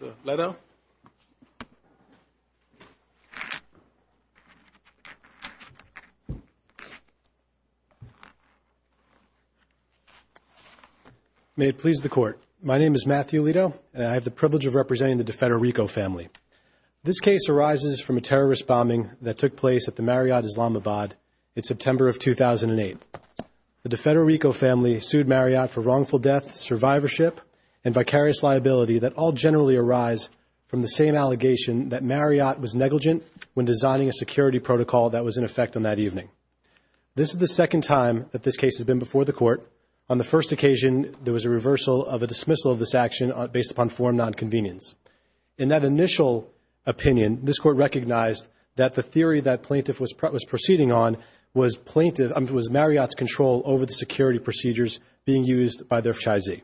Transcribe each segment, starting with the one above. Mr. Leto. May it please the Court. My name is Matthew Leto, and I have the privilege of representing the DiFederico family. This case arises from a terrorist bombing that took place at the Marriott Islamabad in September of 2008. The DiFederico family sued Marriott for wrongful death, survivorship, and vicarious liability that all generally arise from the same allegation that Marriott was negligent when designing a security protocol that was in effect on that evening. This is the second time that this case has been before the Court. On the first occasion, there was a reversal of a dismissal of this action based upon form nonconvenience. In that initial opinion, this Court recognized that the theory that plaintiff was proceeding on was Marriott's control over the security procedures being used by their chizee.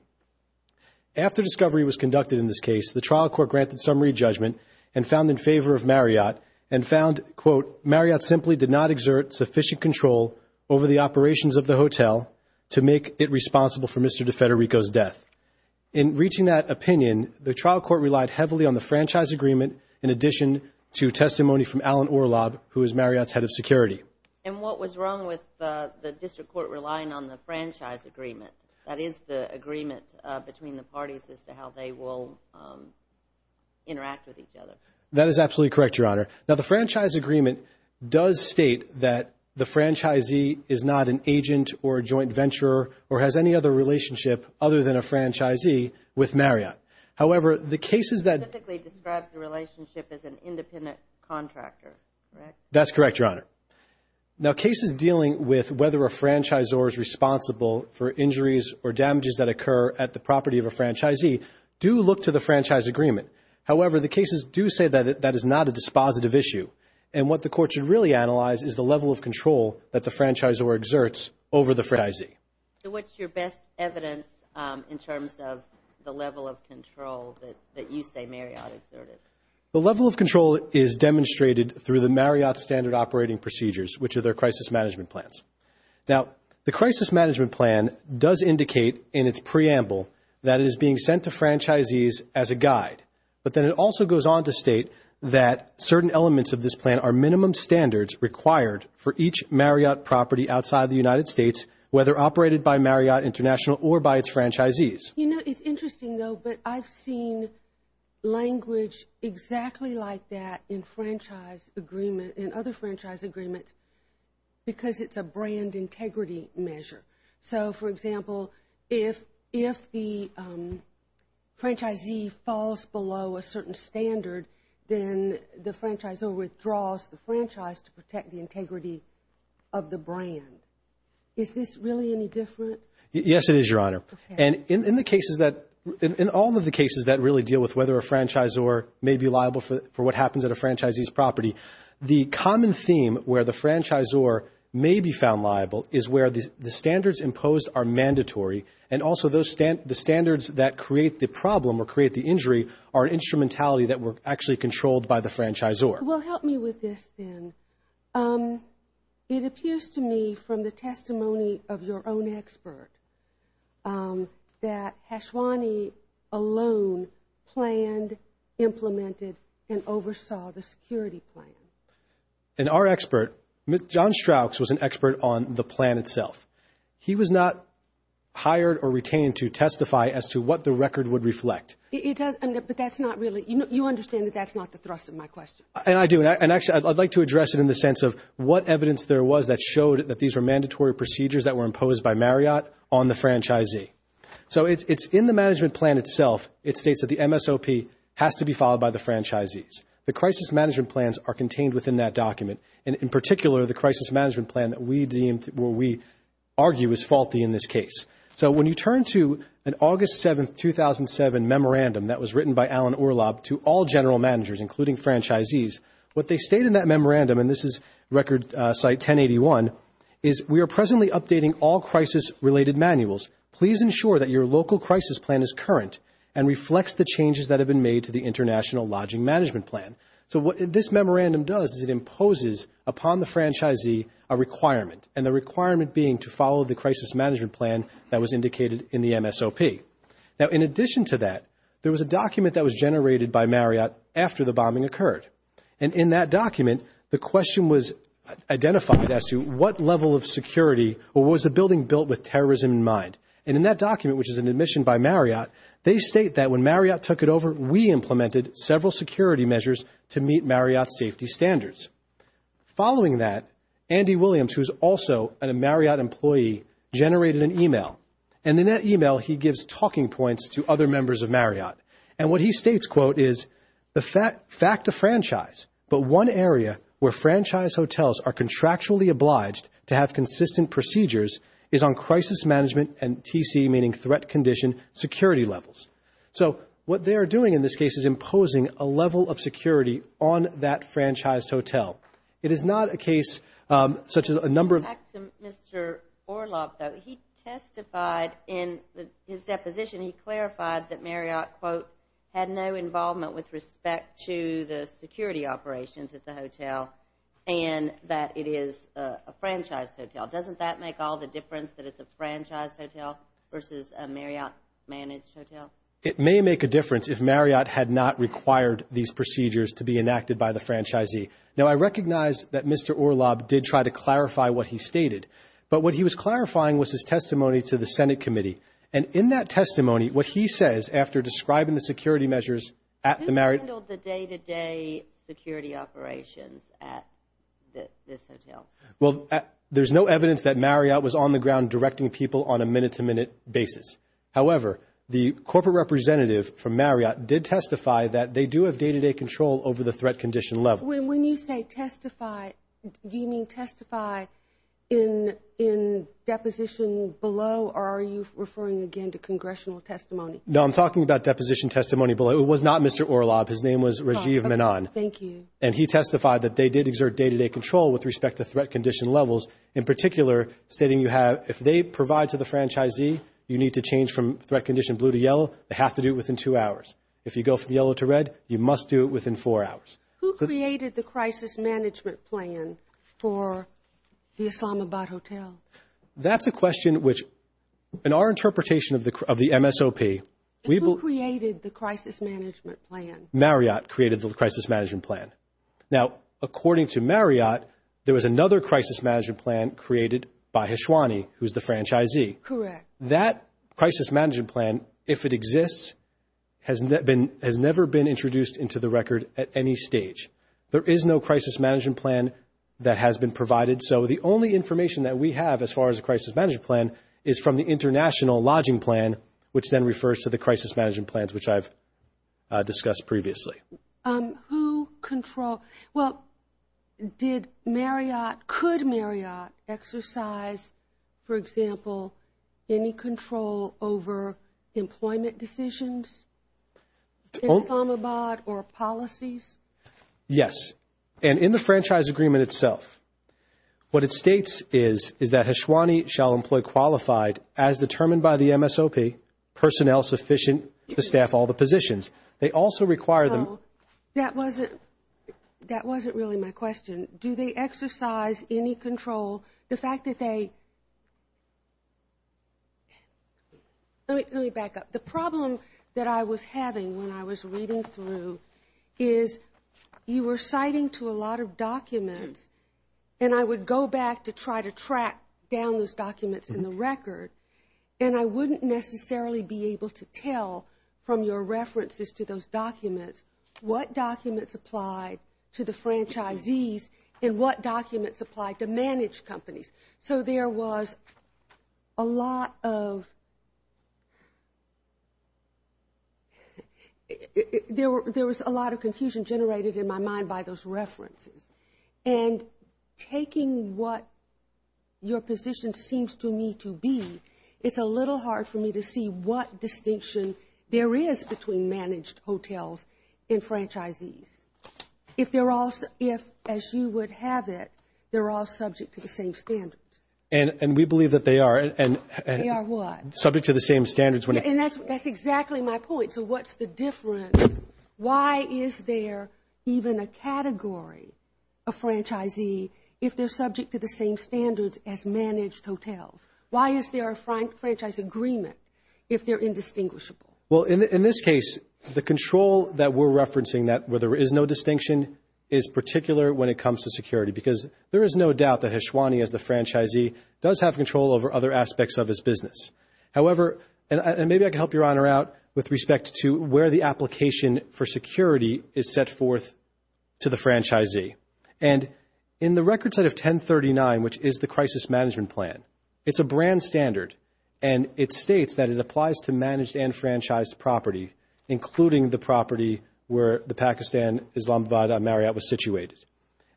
After discovery was conducted in this case, the trial court granted summary judgment and found in favor of Marriott and found, quote, Marriott simply did not exert sufficient control over the operations of the hotel to make it responsible for Mr. DiFederico's death. In reaching that opinion, the trial court relied heavily on the franchise agreement in addition to testimony from Alan Orlob, who is Marriott's head of security. And what was wrong with the district court relying on the franchise agreement? That is the agreement between the parties as to how they will interact with each other. That is absolutely correct, Your Honor. Now, the franchise agreement does state that the franchisee is not an agent or a joint venturer or has any other relationship other than a franchisee with Marriott. However, the cases that – It specifically describes the relationship as an independent contractor, correct? That's correct, Your Honor. Now, cases dealing with whether a franchisor is responsible for injuries or damages that occur at the property of a franchisee do look to the franchise agreement. However, the cases do say that that is not a dispositive issue. And what the court should really analyze is the level of control that the franchisor exerts over the franchisee. So what's your best evidence in terms of the level of control that you say Marriott exerted? The level of control is demonstrated through the Marriott standard operating procedures, which are their crisis management plans. Now, the crisis management plan does indicate in its preamble that it is being sent to franchisees as a guide. But then it also goes on to state that certain elements of this plan are minimum standards required for each Marriott property outside the United States, whether operated by Marriott International or by its franchisees. You know, it's interesting, though, but I've seen language exactly like that in franchise agreement, in other franchise agreements, because it's a brand integrity measure. So, for example, if the franchisee falls below a certain standard, then the franchisor withdraws the franchise to protect the integrity of the brand. Is this really any different? Yes, it is, Your Honor. And in all of the cases that really deal with whether a franchisor may be liable for what happens at a franchisee's property, the common theme where the franchisor may be found liable is where the standards imposed are mandatory, and also the standards that create the problem or create the injury are an instrumentality that were actually controlled by the franchisor. Well, help me with this then. It appears to me from the testimony of your own expert that Hashwani alone planned, implemented, and oversaw the security plan. And our expert, John Strauchs, was an expert on the plan itself. He was not hired or retained to testify as to what the record would reflect. But that's not really, you understand that that's not the thrust of my question. And I do, and actually I'd like to address it in the sense of what evidence there was that showed that these were mandatory procedures that were imposed by Marriott on the franchisee. So it's in the management plan itself, it states that the MSOP has to be followed by the franchisees. The crisis management plans are contained within that document, and in particular the crisis management plan that we deemed or we argue is faulty in this case. So when you turn to an August 7, 2007 memorandum that was written by Alan Orlob to all general managers, including franchisees, what they state in that memorandum, and this is record site 1081, is we are presently updating all crisis-related manuals. Please ensure that your local crisis plan is current and reflects the changes that have been made to the international lodging management plan. So what this memorandum does is it imposes upon the franchisee a requirement, and the requirement being to follow the crisis management plan that was indicated in the MSOP. Now, in addition to that, there was a document that was generated by Marriott after the bombing occurred, and in that document the question was identified as to what level of security or what was the building built with terrorism in mind. And in that document, which is an admission by Marriott, they state that when Marriott took it over, we implemented several security measures to meet Marriott's safety standards. Following that, Andy Williams, who is also a Marriott employee, generated an email, and in that email he gives talking points to other members of Marriott. And what he states, quote, is, the fact of franchise, but one area where franchise hotels are contractually obliged to have consistent procedures, is on crisis management and TC, meaning threat condition, security levels. So what they are doing in this case is imposing a level of security on that franchised hotel. It is not a case such as a number of. Back to Mr. Orlob, though. He testified in his deposition, he clarified that Marriott, quote, had no involvement with respect to the security operations at the hotel and that it is a franchised hotel. Doesn't that make all the difference that it's a franchised hotel versus a Marriott managed hotel? It may make a difference if Marriott had not required these procedures to be enacted by the franchisee. Now, I recognize that Mr. Orlob did try to clarify what he stated, but what he was clarifying was his testimony to the Senate committee. And in that testimony, what he says after describing the security measures at the Marriott. Who handled the day-to-day security operations at this hotel? Well, there's no evidence that Marriott was on the ground directing people on a minute-to-minute basis. However, the corporate representative from Marriott did testify that they do have day-to-day control over the threat condition level. When you say testify, do you mean testify in deposition below, or are you referring again to congressional testimony? No, I'm talking about deposition testimony below. It was not Mr. Orlob. His name was Rajiv Menon. Thank you. And he testified that they did exert day-to-day control with respect to threat condition levels. In particular, stating you have, if they provide to the franchisee, you need to change from threat condition blue to yellow, they have to do it within two hours. If you go from yellow to red, you must do it within four hours. Who created the crisis management plan for the Islamabad Hotel? That's a question which, in our interpretation of the MSOP, we will – And who created the crisis management plan? Marriott created the crisis management plan. Now, according to Marriott, there was another crisis management plan created by Hiswani, who's the franchisee. Correct. That crisis management plan, if it exists, has never been introduced into the record at any stage. There is no crisis management plan that has been provided, so the only information that we have as far as a crisis management plan is from the international lodging plan, which then refers to the crisis management plans, which I've discussed previously. Who controlled – Well, did Marriott – could Marriott exercise, for example, any control over employment decisions in Islamabad or policies? Yes. And in the franchise agreement itself, what it states is, is that Hiswani shall employ qualified, as determined by the MSOP, personnel sufficient to staff all the positions. They also require them – Well, that wasn't really my question. Do they exercise any control? The fact that they – let me back up. The problem that I was having when I was reading through is you were citing to a lot of documents, and I would go back to try to track down those documents in the record, and I wouldn't necessarily be able to tell from your references to those documents what documents apply to the franchisees and what documents apply to managed companies. So there was a lot of – there was a lot of confusion generated in my mind by those references. And taking what your position seems to me to be, it's a little hard for me to see what distinction there is between managed hotels and franchisees. If they're all – if, as you would have it, they're all subject to the same standards. And we believe that they are. They are what? Subject to the same standards. And that's exactly my point. So what's the difference? Why is there even a category of franchisee if they're subject to the same standards as managed hotels? Why is there a franchise agreement if they're indistinguishable? Well, in this case, the control that we're referencing, that where there is no distinction is particular when it comes to security, because there is no doubt that Hishwani, as the franchisee, does have control over other aspects of his business. However, and maybe I can help Your Honor out with respect to where the application for security is set forth to the franchisee. And in the record set of 1039, which is the crisis management plan, it's a brand standard, and it states that it applies to managed and franchised property, including the property where the Pakistan Islamabad Marriott was situated.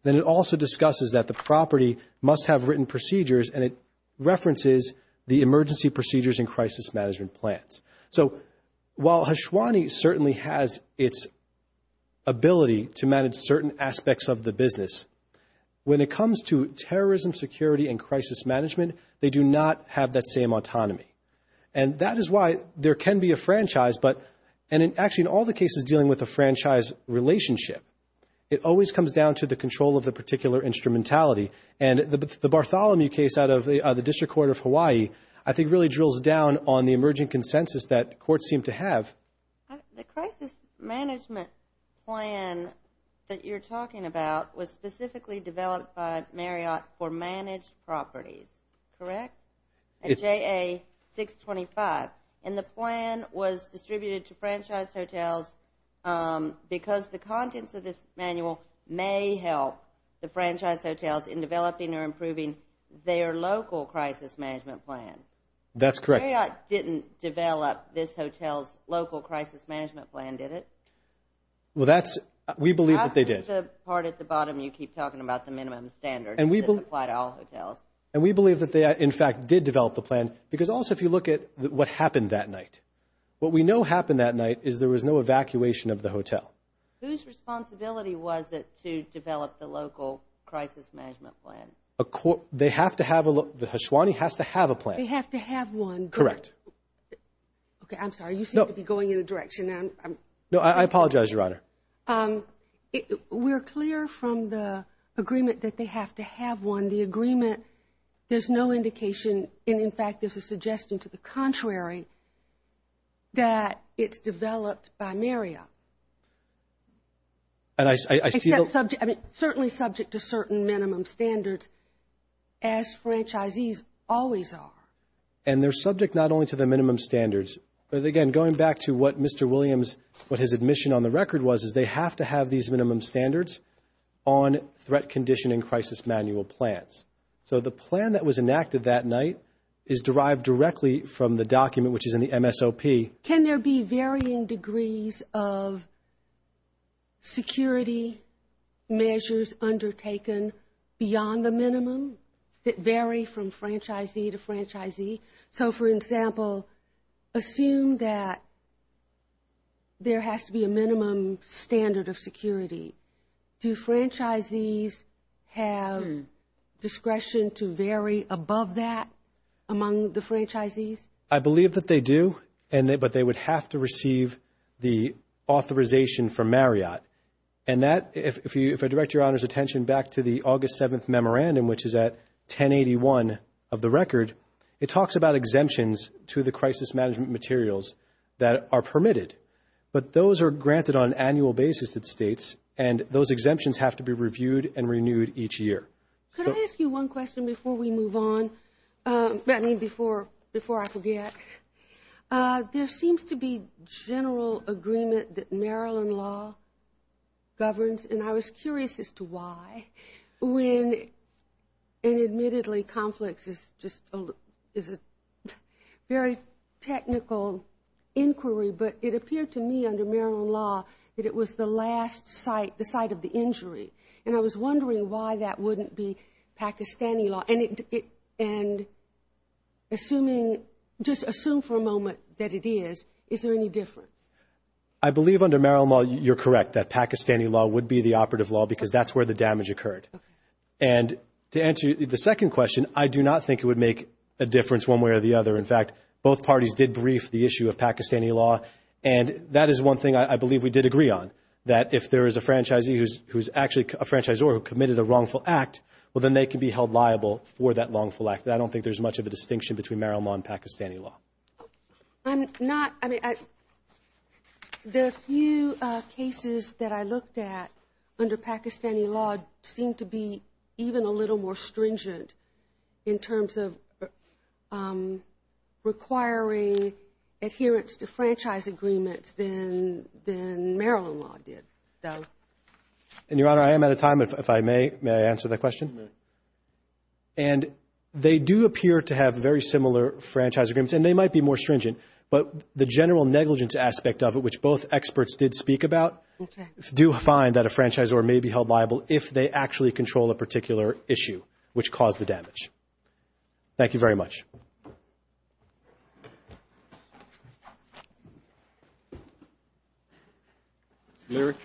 Then it also discusses that the property must have written procedures, and it references the emergency procedures in crisis management plans. So while Hishwani certainly has its ability to manage certain aspects of the business, when it comes to terrorism, security, and crisis management, they do not have that same autonomy. And that is why there can be a franchise, and actually in all the cases dealing with a franchise relationship, it always comes down to the control of the particular instrumentality. And the Bartholomew case out of the District Court of Hawaii, I think really drills down on the emerging consensus that courts seem to have. The crisis management plan that you're talking about was specifically developed by Marriott for managed properties, correct? At JA 625. And the plan was distributed to franchised hotels because the contents of this manual may help the franchised hotels in developing or improving their local crisis management plan. That's correct. Marriott didn't develop this hotel's local crisis management plan, did it? We believe that they did. That's the part at the bottom you keep talking about, the minimum standards that apply to all hotels. And we believe that they, in fact, did develop the plan because also if you look at what happened that night, what we know happened that night is there was no evacuation of the hotel. Whose responsibility was it to develop the local crisis management plan? They have to have a plan. They have to have one. Correct. Okay, I'm sorry. You seem to be going in a direction that I'm not. No, I apologize, Your Honor. We're clear from the agreement that they have to have one. In the agreement, there's no indication, and, in fact, there's a suggestion to the contrary, that it's developed by Marriott. Except subject, I mean, certainly subject to certain minimum standards, as franchisees always are. And they're subject not only to the minimum standards, but, again, going back to what Mr. Williams, what his admission on the record was is they have to have these minimum standards on threat conditioning crisis manual plans. So the plan that was enacted that night is derived directly from the document, which is in the MSOP. Can there be varying degrees of security measures undertaken beyond the minimum that vary from franchisee to franchisee? So, for example, assume that there has to be a minimum standard of security. Do franchisees have discretion to vary above that among the franchisees? I believe that they do, but they would have to receive the authorization from Marriott. And that, if I direct Your Honor's attention back to the August 7th memorandum, which is at 1081 of the record, it talks about exemptions to the crisis management materials that are permitted. But those are granted on an annual basis at states, and those exemptions have to be reviewed and renewed each year. Could I ask you one question before we move on? I mean, before I forget. There seems to be general agreement that Maryland law governs, and I was curious as to why, when, and admittedly conflicts is just a very technical inquiry, but it appeared to me under Maryland law that it was the last site, the site of the injury. And I was wondering why that wouldn't be Pakistani law. And assuming, just assume for a moment that it is, is there any difference? I believe under Maryland law you're correct that Pakistani law would be the operative law because that's where the damage occurred. And to answer the second question, I do not think it would make a difference one way or the other. In fact, both parties did brief the issue of Pakistani law, and that is one thing I believe we did agree on, that if there is a franchisee who's actually a franchisor who committed a wrongful act, well, then they can be held liable for that wrongful act. I don't think there's much of a distinction between Maryland law and Pakistani law. I'm not, I mean, the few cases that I looked at under Pakistani law seem to be even a little more stringent in terms of requiring adherence to franchise agreements than Maryland law did. And, Your Honor, I am out of time. If I may, may I answer that question? And they do appear to have very similar franchise agreements, and they might be more stringent, but the general negligence aspect of it, which both experts did speak about, do find that a franchisor may be held liable if they actually control a particular issue which caused the damage. Thank you very much. Mr. Leary?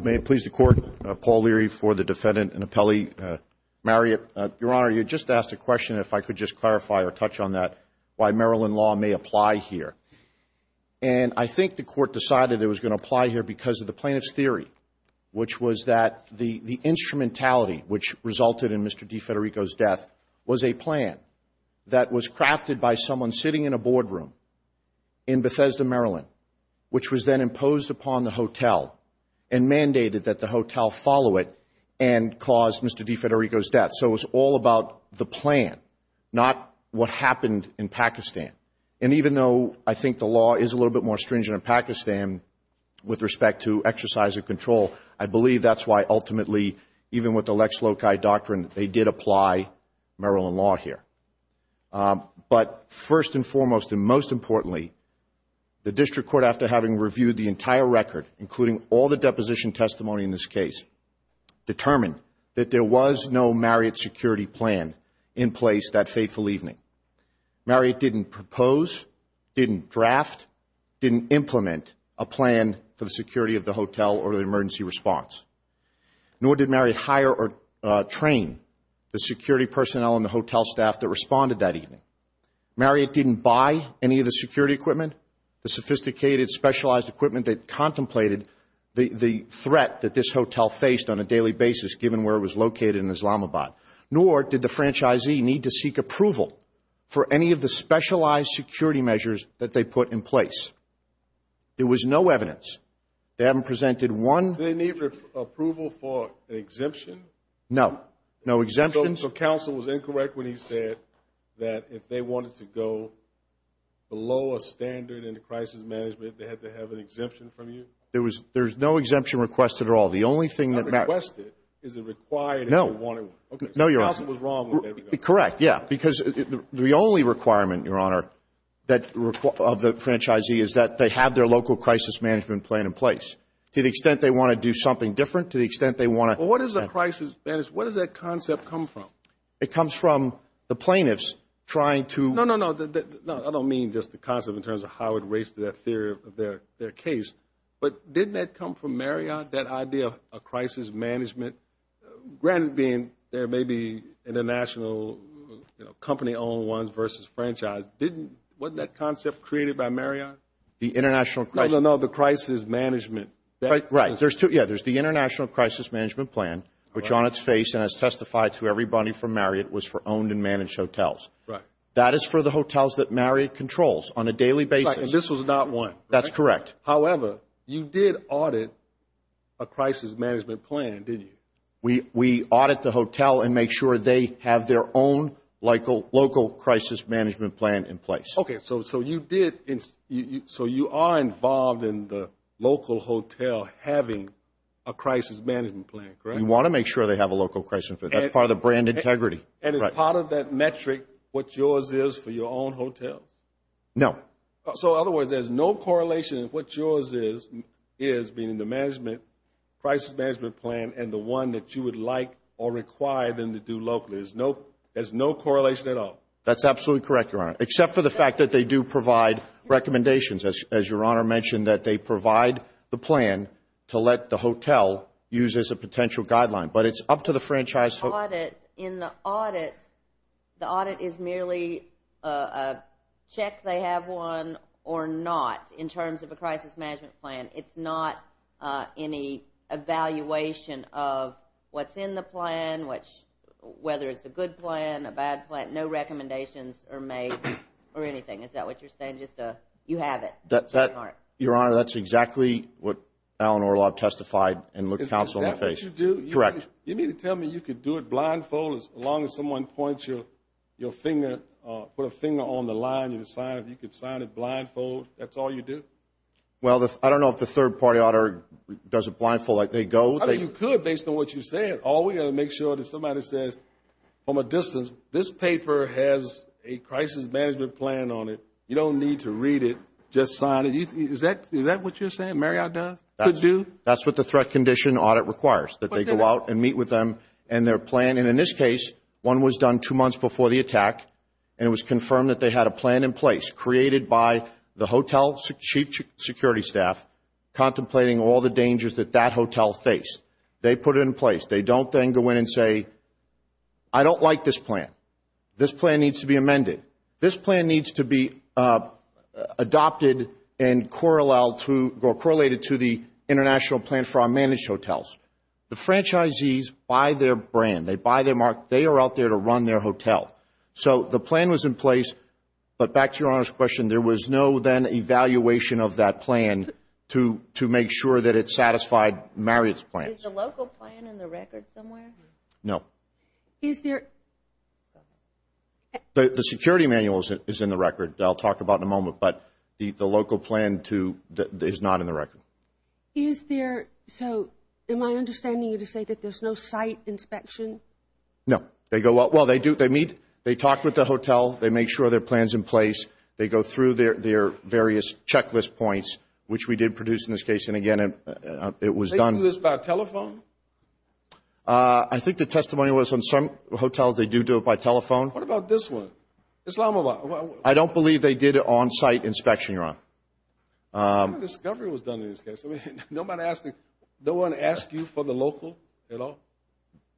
May it please the Court, Paul Leary for the defendant and appellee. Marriott, Your Honor, you just asked a question, if I could just clarify or touch on that, why Maryland law may apply here. And I think the Court decided it was going to apply here because of the plaintiff's theory, which was that the instrumentality which resulted in Mr. DeFederico's death was a plan that was crafted by someone sitting in a boardroom in Bethesda, Maryland, which was then imposed upon the hotel and mandated that the hotel follow it and cause Mr. DeFederico's death. So it was all about the plan, not what happened in Pakistan. And even though I think the law is a little bit more stringent in Pakistan with respect to exercise of control, I believe that's why ultimately, even with the Lex Loci Doctrine, they did apply Maryland law here. But first and foremost and most importantly, the District Court, after having reviewed the entire record, including all the deposition testimony in this case, determined that there was no Marriott security plan in place that fateful evening. Marriott didn't propose, didn't draft, didn't implement a plan for the security of the hotel or the emergency response. Nor did Marriott hire or train the security personnel and the hotel staff that responded that evening. Marriott didn't buy any of the security equipment, the sophisticated, specialized equipment that contemplated the threat that this hotel faced on a daily basis, given where it was located in Islamabad. Nor did the franchisee need to seek approval for any of the specialized security measures that they put in place. There was no evidence. They haven't presented one. Did they need approval for an exemption? No, no exemptions. So counsel was incorrect when he said that if they wanted to go below a standard in the crisis management, they had to have an exemption from you? There's no exemption request at all. The only thing that matters. No. No, Your Honor. Correct, yeah. Because the only requirement, Your Honor, of the franchisee is that they have their local crisis management plan in place. To the extent they want to do something different, to the extent they want to. Well, what is a crisis, what does that concept come from? It comes from the plaintiffs trying to. No, no, no. I don't mean just the concept in terms of how it relates to that theory of their case. But didn't that come from Marriott, that idea of crisis management? Granted, being there may be international company-owned ones versus franchise. Didn't, wasn't that concept created by Marriott? The international crisis. No, no, no. The crisis management. Right. Yeah, there's the international crisis management plan, which on its face and has testified to everybody from Marriott, was for owned and managed hotels. Right. That is for the hotels that Marriott controls on a daily basis. Right, and this was not one. That's correct. However, you did audit a crisis management plan, didn't you? We audit the hotel and make sure they have their own local crisis management plan in place. Okay, so you did, so you are involved in the local hotel having a crisis management plan, correct? We want to make sure they have a local crisis management plan. That's part of the brand integrity. And is part of that metric what yours is for your own hotels? No. So, in other words, there's no correlation of what yours is, meaning the crisis management plan and the one that you would like or require them to do locally. There's no correlation at all. That's absolutely correct, Your Honor, except for the fact that they do provide recommendations, as Your Honor mentioned, that they provide the plan to let the hotel use as a potential guideline. But it's up to the franchise. In the audit, the audit is merely a check they have one or not in terms of a crisis management plan. It's not any evaluation of what's in the plan, whether it's a good plan, a bad plan. No recommendations are made or anything. Is that what you're saying, just a you have it? Your Honor, that's exactly what Alan Orlov testified and looked counsel in the face. Is that what you do? Correct. You mean to tell me you could do it blindfolded as long as someone points your finger, put a finger on the line, and you could sign it blindfolded? That's all you do? Well, I don't know if the third-party auditor does it blindfolded. I mean, you could, based on what you said. All we got to make sure that somebody says, from a distance, this paper has a crisis management plan on it. You don't need to read it. Just sign it. Is that what you're saying Marriott does, could do? That's what the threat condition audit requires, that they go out and meet with them and their plan. And in this case, one was done two months before the attack, and it was confirmed that they had a plan in place created by the hotel chief security staff contemplating all the dangers that that hotel faced. They put it in place. They don't then go in and say, I don't like this plan. This plan needs to be amended. This plan needs to be adopted and correlated to the international plan for our managed hotels. The franchisees buy their brand. They buy their mark. They are out there to run their hotel. So the plan was in place, but back to your Honor's question, there was no then evaluation of that plan to make sure that it satisfied Marriott's plans. Is the local plan in the record somewhere? No. Is there? The security manual is in the record. I'll talk about it in a moment. But the local plan is not in the record. Is there? So am I understanding you to say that there's no site inspection? No. Well, they meet. They talk with the hotel. They make sure their plan is in place. They go through their various checklist points, which we did produce in this case. And, again, it was done. Did they do this by telephone? I think the testimony was on some hotels they do do it by telephone. What about this one? Islamabad. I don't believe they did an on-site inspection, Your Honor. What kind of discovery was done in this case? Nobody asked you for the local at all?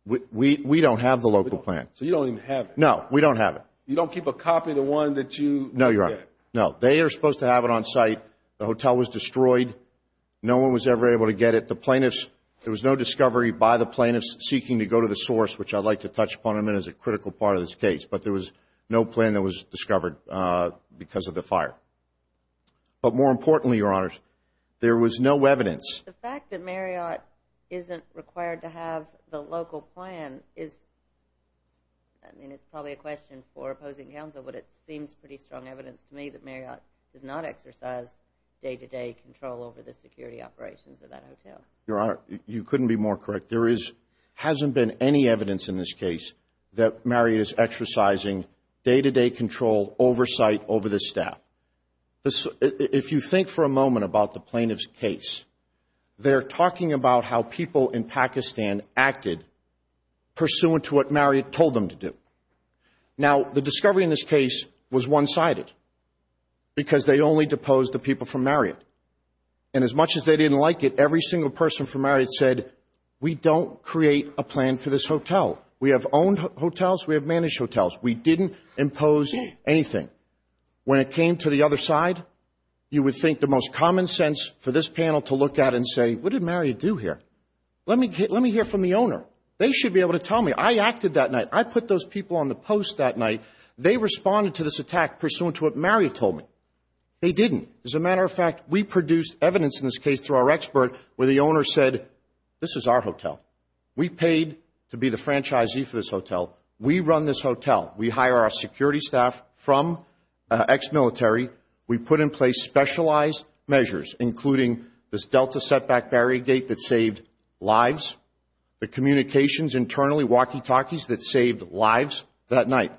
We don't have the local plan. So you don't even have it? No. We don't have it. You don't keep a copy of the one that you get? No, Your Honor. No. They are supposed to have it on site. The hotel was destroyed. No one was ever able to get it. There was no discovery by the plaintiffs seeking to go to the source, which I'd like to touch upon in a minute as a critical part of this case. But there was no plan that was discovered because of the fire. But more importantly, Your Honor, there was no evidence. The fact that Marriott isn't required to have the local plan is, I mean, it's probably a question for opposing counsel, but it seems pretty strong evidence to me that Marriott does not exercise day-to-day control over the security operations of that hotel. Your Honor, you couldn't be more correct. There hasn't been any evidence in this case that Marriott is exercising day-to-day control oversight over the staff. If you think for a moment about the plaintiff's case, they're talking about how people in Pakistan acted pursuant to what Marriott told them to do. Now, the discovery in this case was one-sided because they only deposed the people from Marriott. And as much as they didn't like it, every single person from Marriott said, we don't create a plan for this hotel. We have owned hotels. We have managed hotels. We didn't impose anything. When it came to the other side, you would think the most common sense for this panel to look at and say, what did Marriott do here? Let me hear from the owner. They should be able to tell me. I acted that night. I put those people on the post that night. They responded to this attack pursuant to what Marriott told me. They didn't. As a matter of fact, we produced evidence in this case through our expert where the owner said, this is our hotel. We paid to be the franchisee for this hotel. We run this hotel. We hire our security staff from ex-military. We put in place specialized measures, including this Delta setback barrier gate that saved lives, the communications internally walkie-talkies that saved lives that night.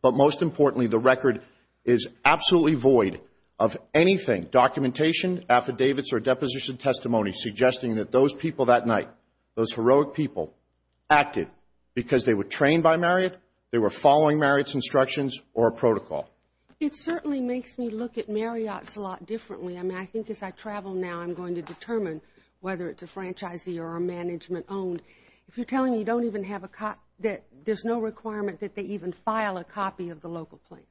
But most importantly, the record is absolutely void of anything, documentation, affidavits, or deposition testimony, suggesting that those people that night, those heroic people, acted because they were trained by Marriott, they were following Marriott's instructions or protocol. It certainly makes me look at Marriott's a lot differently. I mean, I think as I travel now, I'm going to determine whether it's a franchisee or a management-owned. If you're telling me you don't even have a copy, there's no requirement that they even file a copy of the local plane.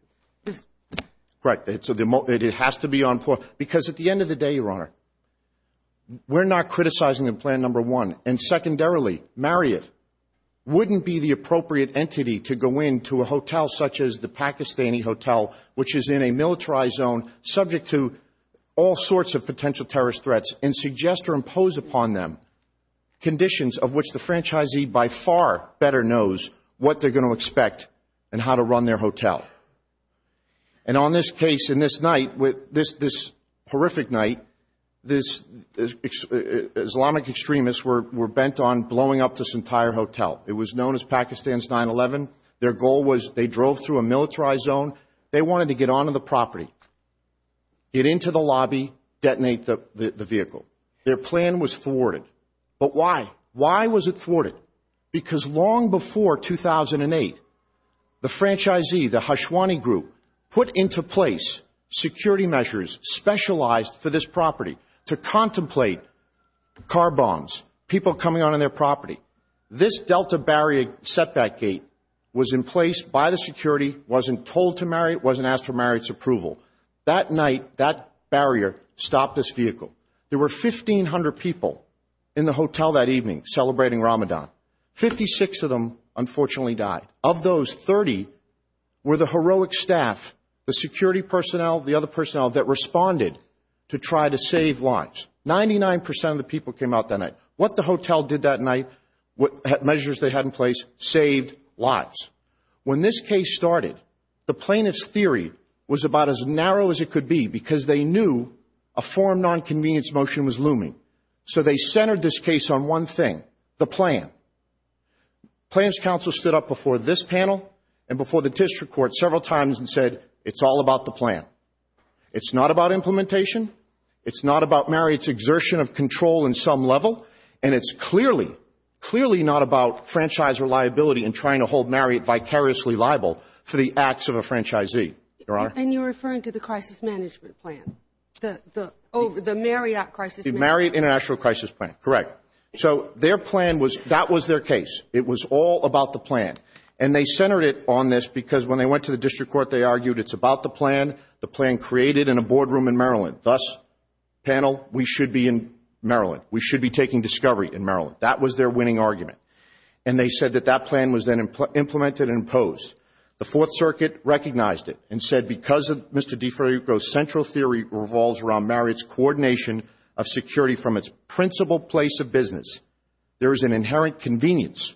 Right. It has to be on point. Because at the end of the day, Your Honor, we're not criticizing the plan number one. And secondarily, Marriott wouldn't be the appropriate entity to go into a hotel such as the Pakistani hotel, which is in a militarized zone, subject to all sorts of potential terrorist threats, and suggest or impose upon them conditions of which the franchisee by far better knows what they're going to expect and how to run their hotel. And on this case, in this night, this horrific night, Islamic extremists were bent on blowing up this entire hotel. It was known as Pakistan's 9-11. Their goal was they drove through a militarized zone. They wanted to get onto the property, get into the lobby, detonate the vehicle. Their plan was thwarted. But why? Why was it thwarted? Because long before 2008, the franchisee, the Hashwani group, put into place security measures specialized for this property to contemplate car bombs, people coming onto their property. This delta barrier setback gate was in place by the security, wasn't told to marry, wasn't asked for marriage approval. That night, that barrier stopped this vehicle. There were 1,500 people in the hotel that evening celebrating Ramadan. Fifty-six of them unfortunately died. Of those, 30 were the heroic staff, the security personnel, the other personnel that responded to try to save lives. Ninety-nine percent of the people came out that night. What the hotel did that night, measures they had in place, saved lives. When this case started, the plaintiff's theory was about as narrow as it could be because they knew a foreign nonconvenience motion was looming. So they centered this case on one thing, the plan. Plaintiff's counsel stood up before this panel and before the district court several times and said, it's all about the plan. It's not about implementation. It's not about marriage exertion of control in some level. And it's clearly, clearly not about franchise reliability and trying to hold Marriott vicariously liable for the acts of a franchisee. And you're referring to the crisis management plan, the Marriott crisis management plan. The Marriott International Crisis Plan, correct. So their plan was, that was their case. It was all about the plan. And they centered it on this because when they went to the district court, they argued it's about the plan, the plan created in a boardroom in Maryland. Thus, panel, we should be in Maryland. We should be taking discovery in Maryland. That was their winning argument. And they said that that plan was then implemented and imposed. The Fourth Circuit recognized it and said, because of Mr. DeFrancisco's central theory revolves around Marriott's coordination of security from its principal place of business, there is an inherent convenience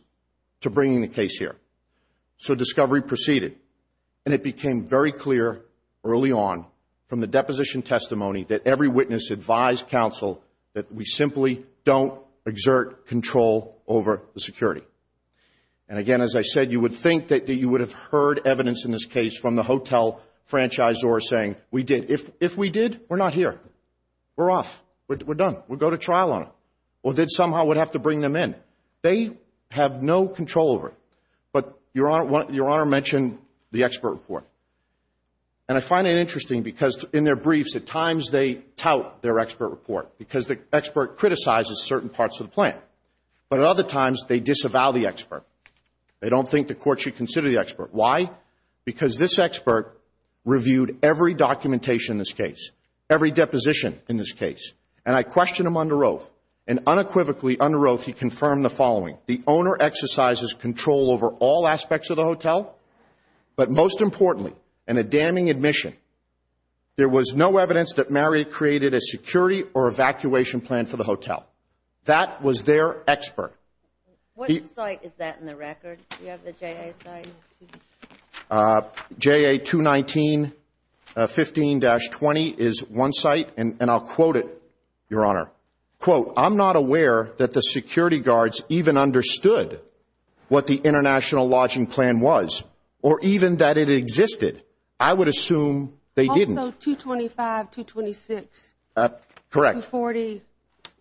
to bringing the case here. So discovery proceeded. And it became very clear early on from the deposition testimony that every witness advised counsel that we simply don't exert control over the security. And, again, as I said, you would think that you would have heard evidence in this case from the hotel franchisor saying, we did. If we did, we're not here. We're off. We're done. We'll go to trial on it. Or they somehow would have to bring them in. They have no control over it. But Your Honor mentioned the expert report. And I find it interesting because in their briefs at times they tout their expert report because the expert criticizes certain parts of the plan. But at other times they disavow the expert. They don't think the court should consider the expert. Why? Because this expert reviewed every documentation in this case, every deposition in this case. And I questioned him under oath. And unequivocally under oath he confirmed the following. The owner exercises control over all aspects of the hotel, but most importantly, in a damning admission, there was no evidence that Marriott created a security or evacuation plan for the hotel. That was their expert. What site is that in the record? Do you have the JA site? JA 219-15-20 is one site. And I'll quote it, Your Honor. Quote, I'm not aware that the security guards even understood what the international lodging plan was or even that it existed. I would assume they didn't. Also 225, 226. Correct. 240.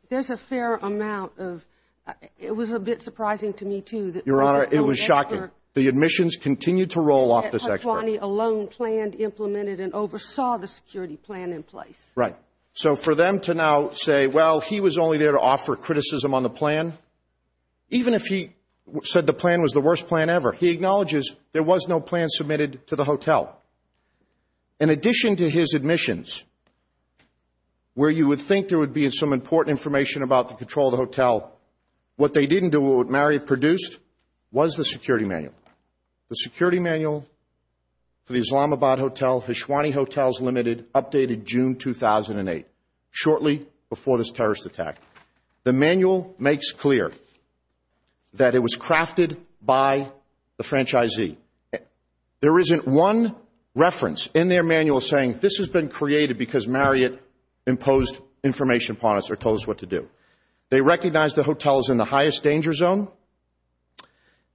There's a fair amount of – it was a bit surprising to me, too. Your Honor, it was shocking. The admissions continued to roll off this expert. 220 alone planned, implemented, and oversaw the security plan in place. Right. So for them to now say, well, he was only there to offer criticism on the plan, even if he said the plan was the worst plan ever, he acknowledges there was no plan submitted to the hotel. In addition to his admissions, where you would think there would be some important information about the control of the hotel, what they didn't do, what Marriott produced, was the security manual. The security manual for the Islamabad Hotel, Hishwani Hotels Limited, updated June 2008, shortly before this terrorist attack. The manual makes clear that it was crafted by the franchisee. There isn't one reference in their manual saying this has been created because Marriott imposed information upon us or told us what to do. They recognized the hotel is in the highest danger zone.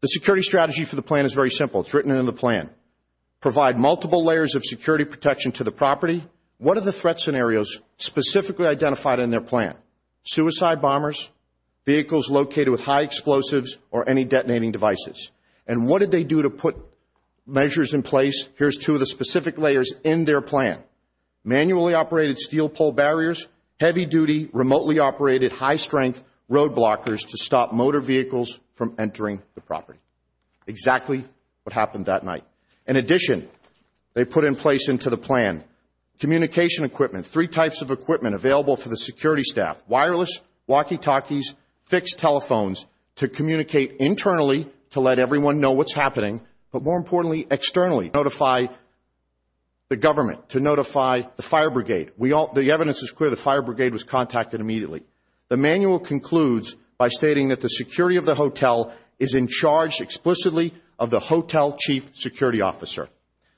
The security strategy for the plan is very simple. It's written in the plan. Provide multiple layers of security protection to the property. What are the threat scenarios specifically identified in their plan? Suicide bombers, vehicles located with high explosives, or any detonating devices. And what did they do to put measures in place? Here's two of the specific layers in their plan. Manually operated steel pole barriers, heavy duty, remotely operated, high strength road blockers to stop motor vehicles from entering the property. Exactly what happened that night. In addition, they put in place into the plan communication equipment, three types of equipment available for the security staff. Wireless walkie-talkies, fixed telephones to communicate internally to let everyone know what's happening, but more importantly, externally to notify the government, to notify the fire brigade. The evidence is clear. The fire brigade was contacted immediately. The manual concludes by stating that the security of the hotel is in charge explicitly of the hotel chief security officer.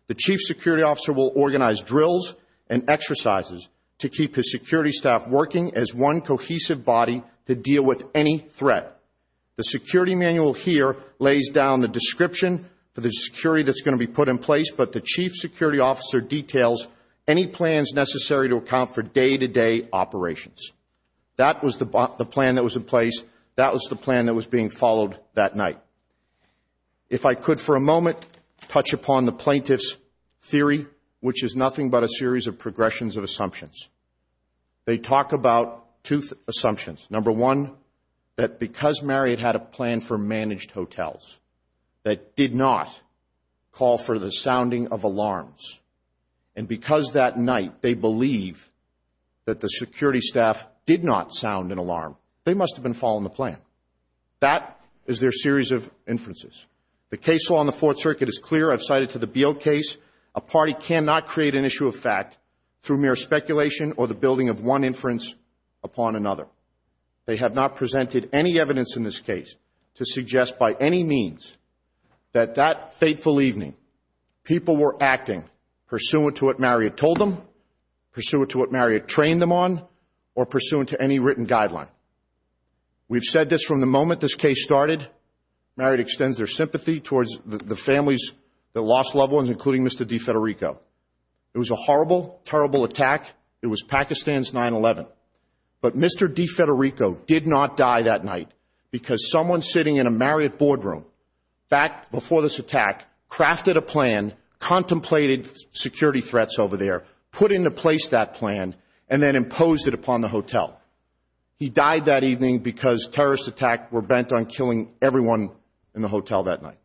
The chief security officer will organize drills and exercises to keep his security staff working as one cohesive body to deal with any threat. The security manual here lays down the description for the security that's going to be put in place, but the chief security officer details any plans necessary to account for day-to-day operations. That was the plan that was in place. That was the plan that was being followed that night. If I could for a moment touch upon the plaintiff's theory, which is nothing but a series of progressions of assumptions. They talk about two assumptions. Number one, that because Marriott had a plan for managed hotels that did not call for the sounding of alarms, and because that night they believe that the security staff did not sound an alarm, they must have been following the plan. That is their series of inferences. The case law in the Fourth Circuit is clear. I've cited to the Beale case. A party cannot create an issue of fact through mere speculation or the building of one inference upon another. They have not presented any evidence in this case to suggest by any means that that fateful evening, people were acting pursuant to what Marriott told them, pursuant to what Marriott trained them on, or pursuant to any written guideline. We've said this from the moment this case started. Marriott extends their sympathy towards the families, the lost loved ones, including Mr. DeFederico. It was a horrible, terrible attack. It was Pakistan's 9-11. But Mr. DeFederico did not die that night because someone sitting in a Marriott boardroom, back before this attack, crafted a plan, contemplated security threats over there, put into place that plan, and then imposed it upon the hotel. He died that evening because terrorist attacks were bent on killing everyone in the hotel that night.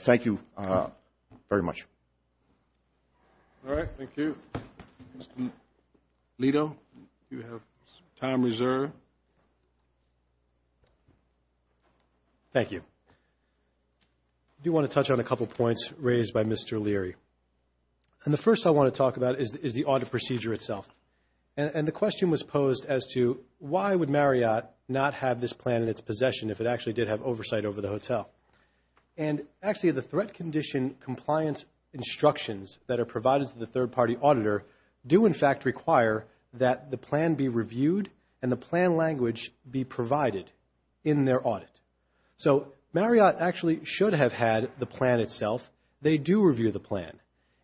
Thank you very much. All right, thank you. Mr. Lito, you have time reserved. Thank you. I do want to touch on a couple points raised by Mr. Leary. And the first I want to talk about is the audit procedure itself. And the question was posed as to why would Marriott not have this plan in its possession if it actually did have oversight over the hotel. And actually the threat condition compliance instructions that are provided to the third-party auditor do in fact require that the plan be reviewed and the plan language be provided in their audit. So Marriott actually should have had the plan itself. They do review the plan.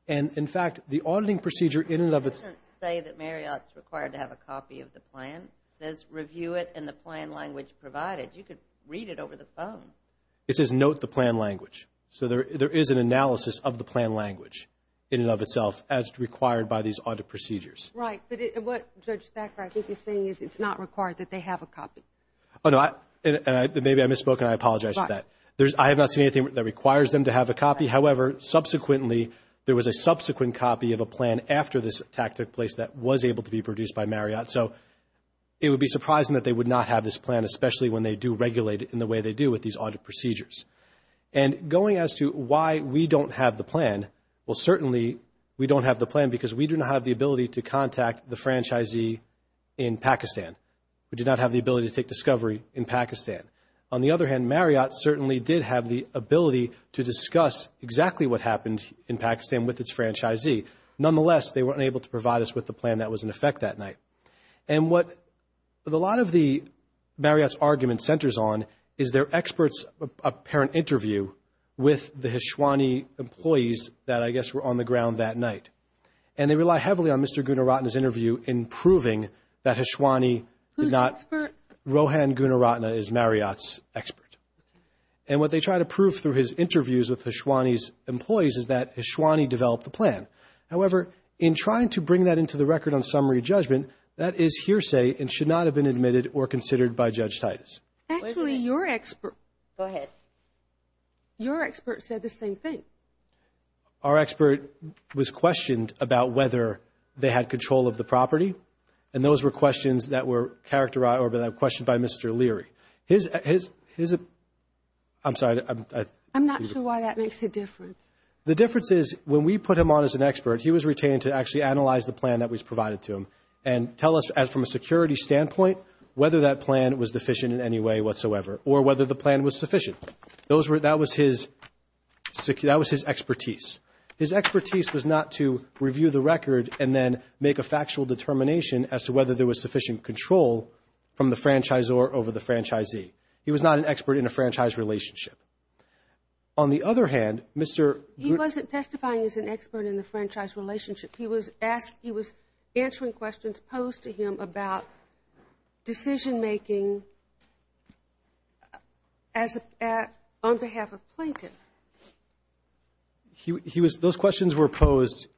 And, in fact, the auditing procedure in and of itself. It doesn't say that Marriott is required to have a copy of the plan. It says review it and the plan language provided. You could read it over the phone. It says note the plan language. So there is an analysis of the plan language in and of itself as required by these audit procedures. Right. But what Judge Thacker, I think, is saying is it's not required that they have a copy. Oh, no. Maybe I misspoke and I apologize for that. I have not seen anything that requires them to have a copy. However, subsequently, there was a subsequent copy of a plan after this attack took place that was able to be produced by Marriott. So it would be surprising that they would not have this plan, especially when they do regulate it in the way they do with these audit procedures. And going as to why we don't have the plan, well, certainly we don't have the plan because we do not have the ability to contact the franchisee in Pakistan. We do not have the ability to take discovery in Pakistan. On the other hand, Marriott certainly did have the ability to discuss exactly what happened in Pakistan with its franchisee. Nonetheless, they were unable to provide us with the plan that was in effect that night. And what a lot of the Marriott's argument centers on is their expert's apparent interview with the Hishwani employees that I guess were on the ground that night. And they rely heavily on Mr. Gunaratne's interview in proving that Hishwani did not. Who's the expert? Rohan Gunaratne is Marriott's expert. And what they try to prove through his interviews with Hishwani's employees is that Hishwani developed the plan. However, in trying to bring that into the record on summary judgment, that is hearsay and should not have been admitted or considered by Judge Titus. Actually, your expert said the same thing. Our expert was questioned about whether they had control of the property, and those were questions that were characterized or were questioned by Mr. Leary. I'm sorry. I'm not sure why that makes a difference. The difference is when we put him on as an expert, he was retained to actually analyze the plan that was provided to him and tell us from a security standpoint whether that plan was deficient in any way whatsoever or whether the plan was sufficient. That was his expertise. His expertise was not to review the record and then make a factual determination as to whether there was sufficient control from the franchisor over the franchisee. He was not an expert in a franchise relationship. On the other hand, Mr. ---- He wasn't testifying as an expert in the franchise relationship. He was answering questions posed to him about decision-making on behalf of Plaintiff. Those questions were posed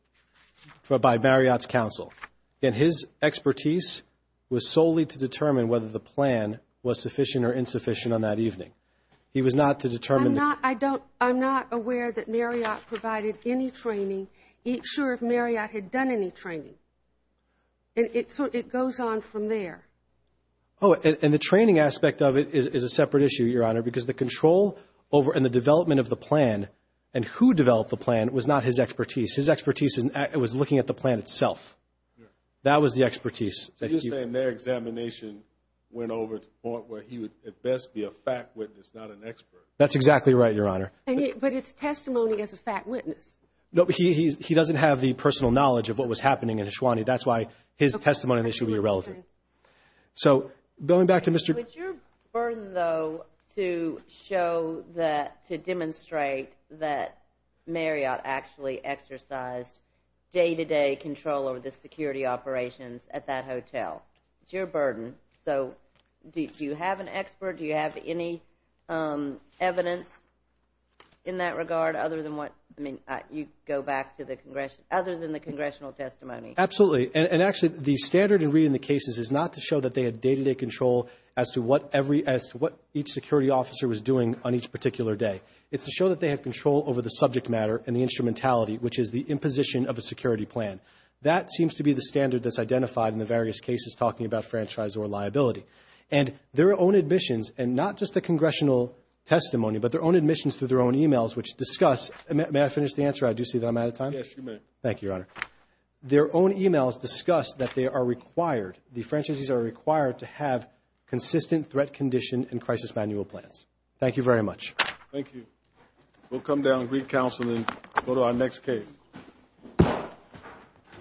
by Marriott's counsel, and his expertise was solely to determine whether the plan was sufficient or insufficient on that evening. He was not to determine the ---- I'm not aware that Marriott provided any training. I'm not sure if Marriott had done any training. And it goes on from there. Oh, and the training aspect of it is a separate issue, Your Honor, because the control over and the development of the plan and who developed the plan was not his expertise. His expertise was looking at the plan itself. That was the expertise. So you're saying their examination went over to the point where he would at best be a fact witness, not an expert. That's exactly right, Your Honor. But his testimony is a fact witness. No, but he doesn't have the personal knowledge of what was happening in Ashwani. That's why his testimony should be irrelevant. So going back to Mr. ---- It's your burden, though, to show that, to demonstrate that Marriott actually exercised day-to-day control over the security operations at that hotel. It's your burden. So do you have an expert? Do you have any evidence in that regard other than what ---- I mean, you go back to the congressional ---- other than the congressional testimony. Absolutely. And actually, the standard in reading the cases is not to show that they had day-to-day control as to what every ---- as to what each security officer was doing on each particular day. It's to show that they had control over the subject matter and the instrumentality, which is the imposition of a security plan. That seems to be the standard that's identified in the various cases talking about franchise or liability. And their own admissions, and not just the congressional testimony, but their own admissions through their own e-mails, which discuss ---- May I finish the answer? I do see that I'm out of time. Yes, you may. Thank you, Your Honor. Their own e-mails discuss that they are required, the franchises are required, to have consistent threat condition and crisis manual plans. Thank you very much. Thank you. We'll come down and read counsel and go to our next case.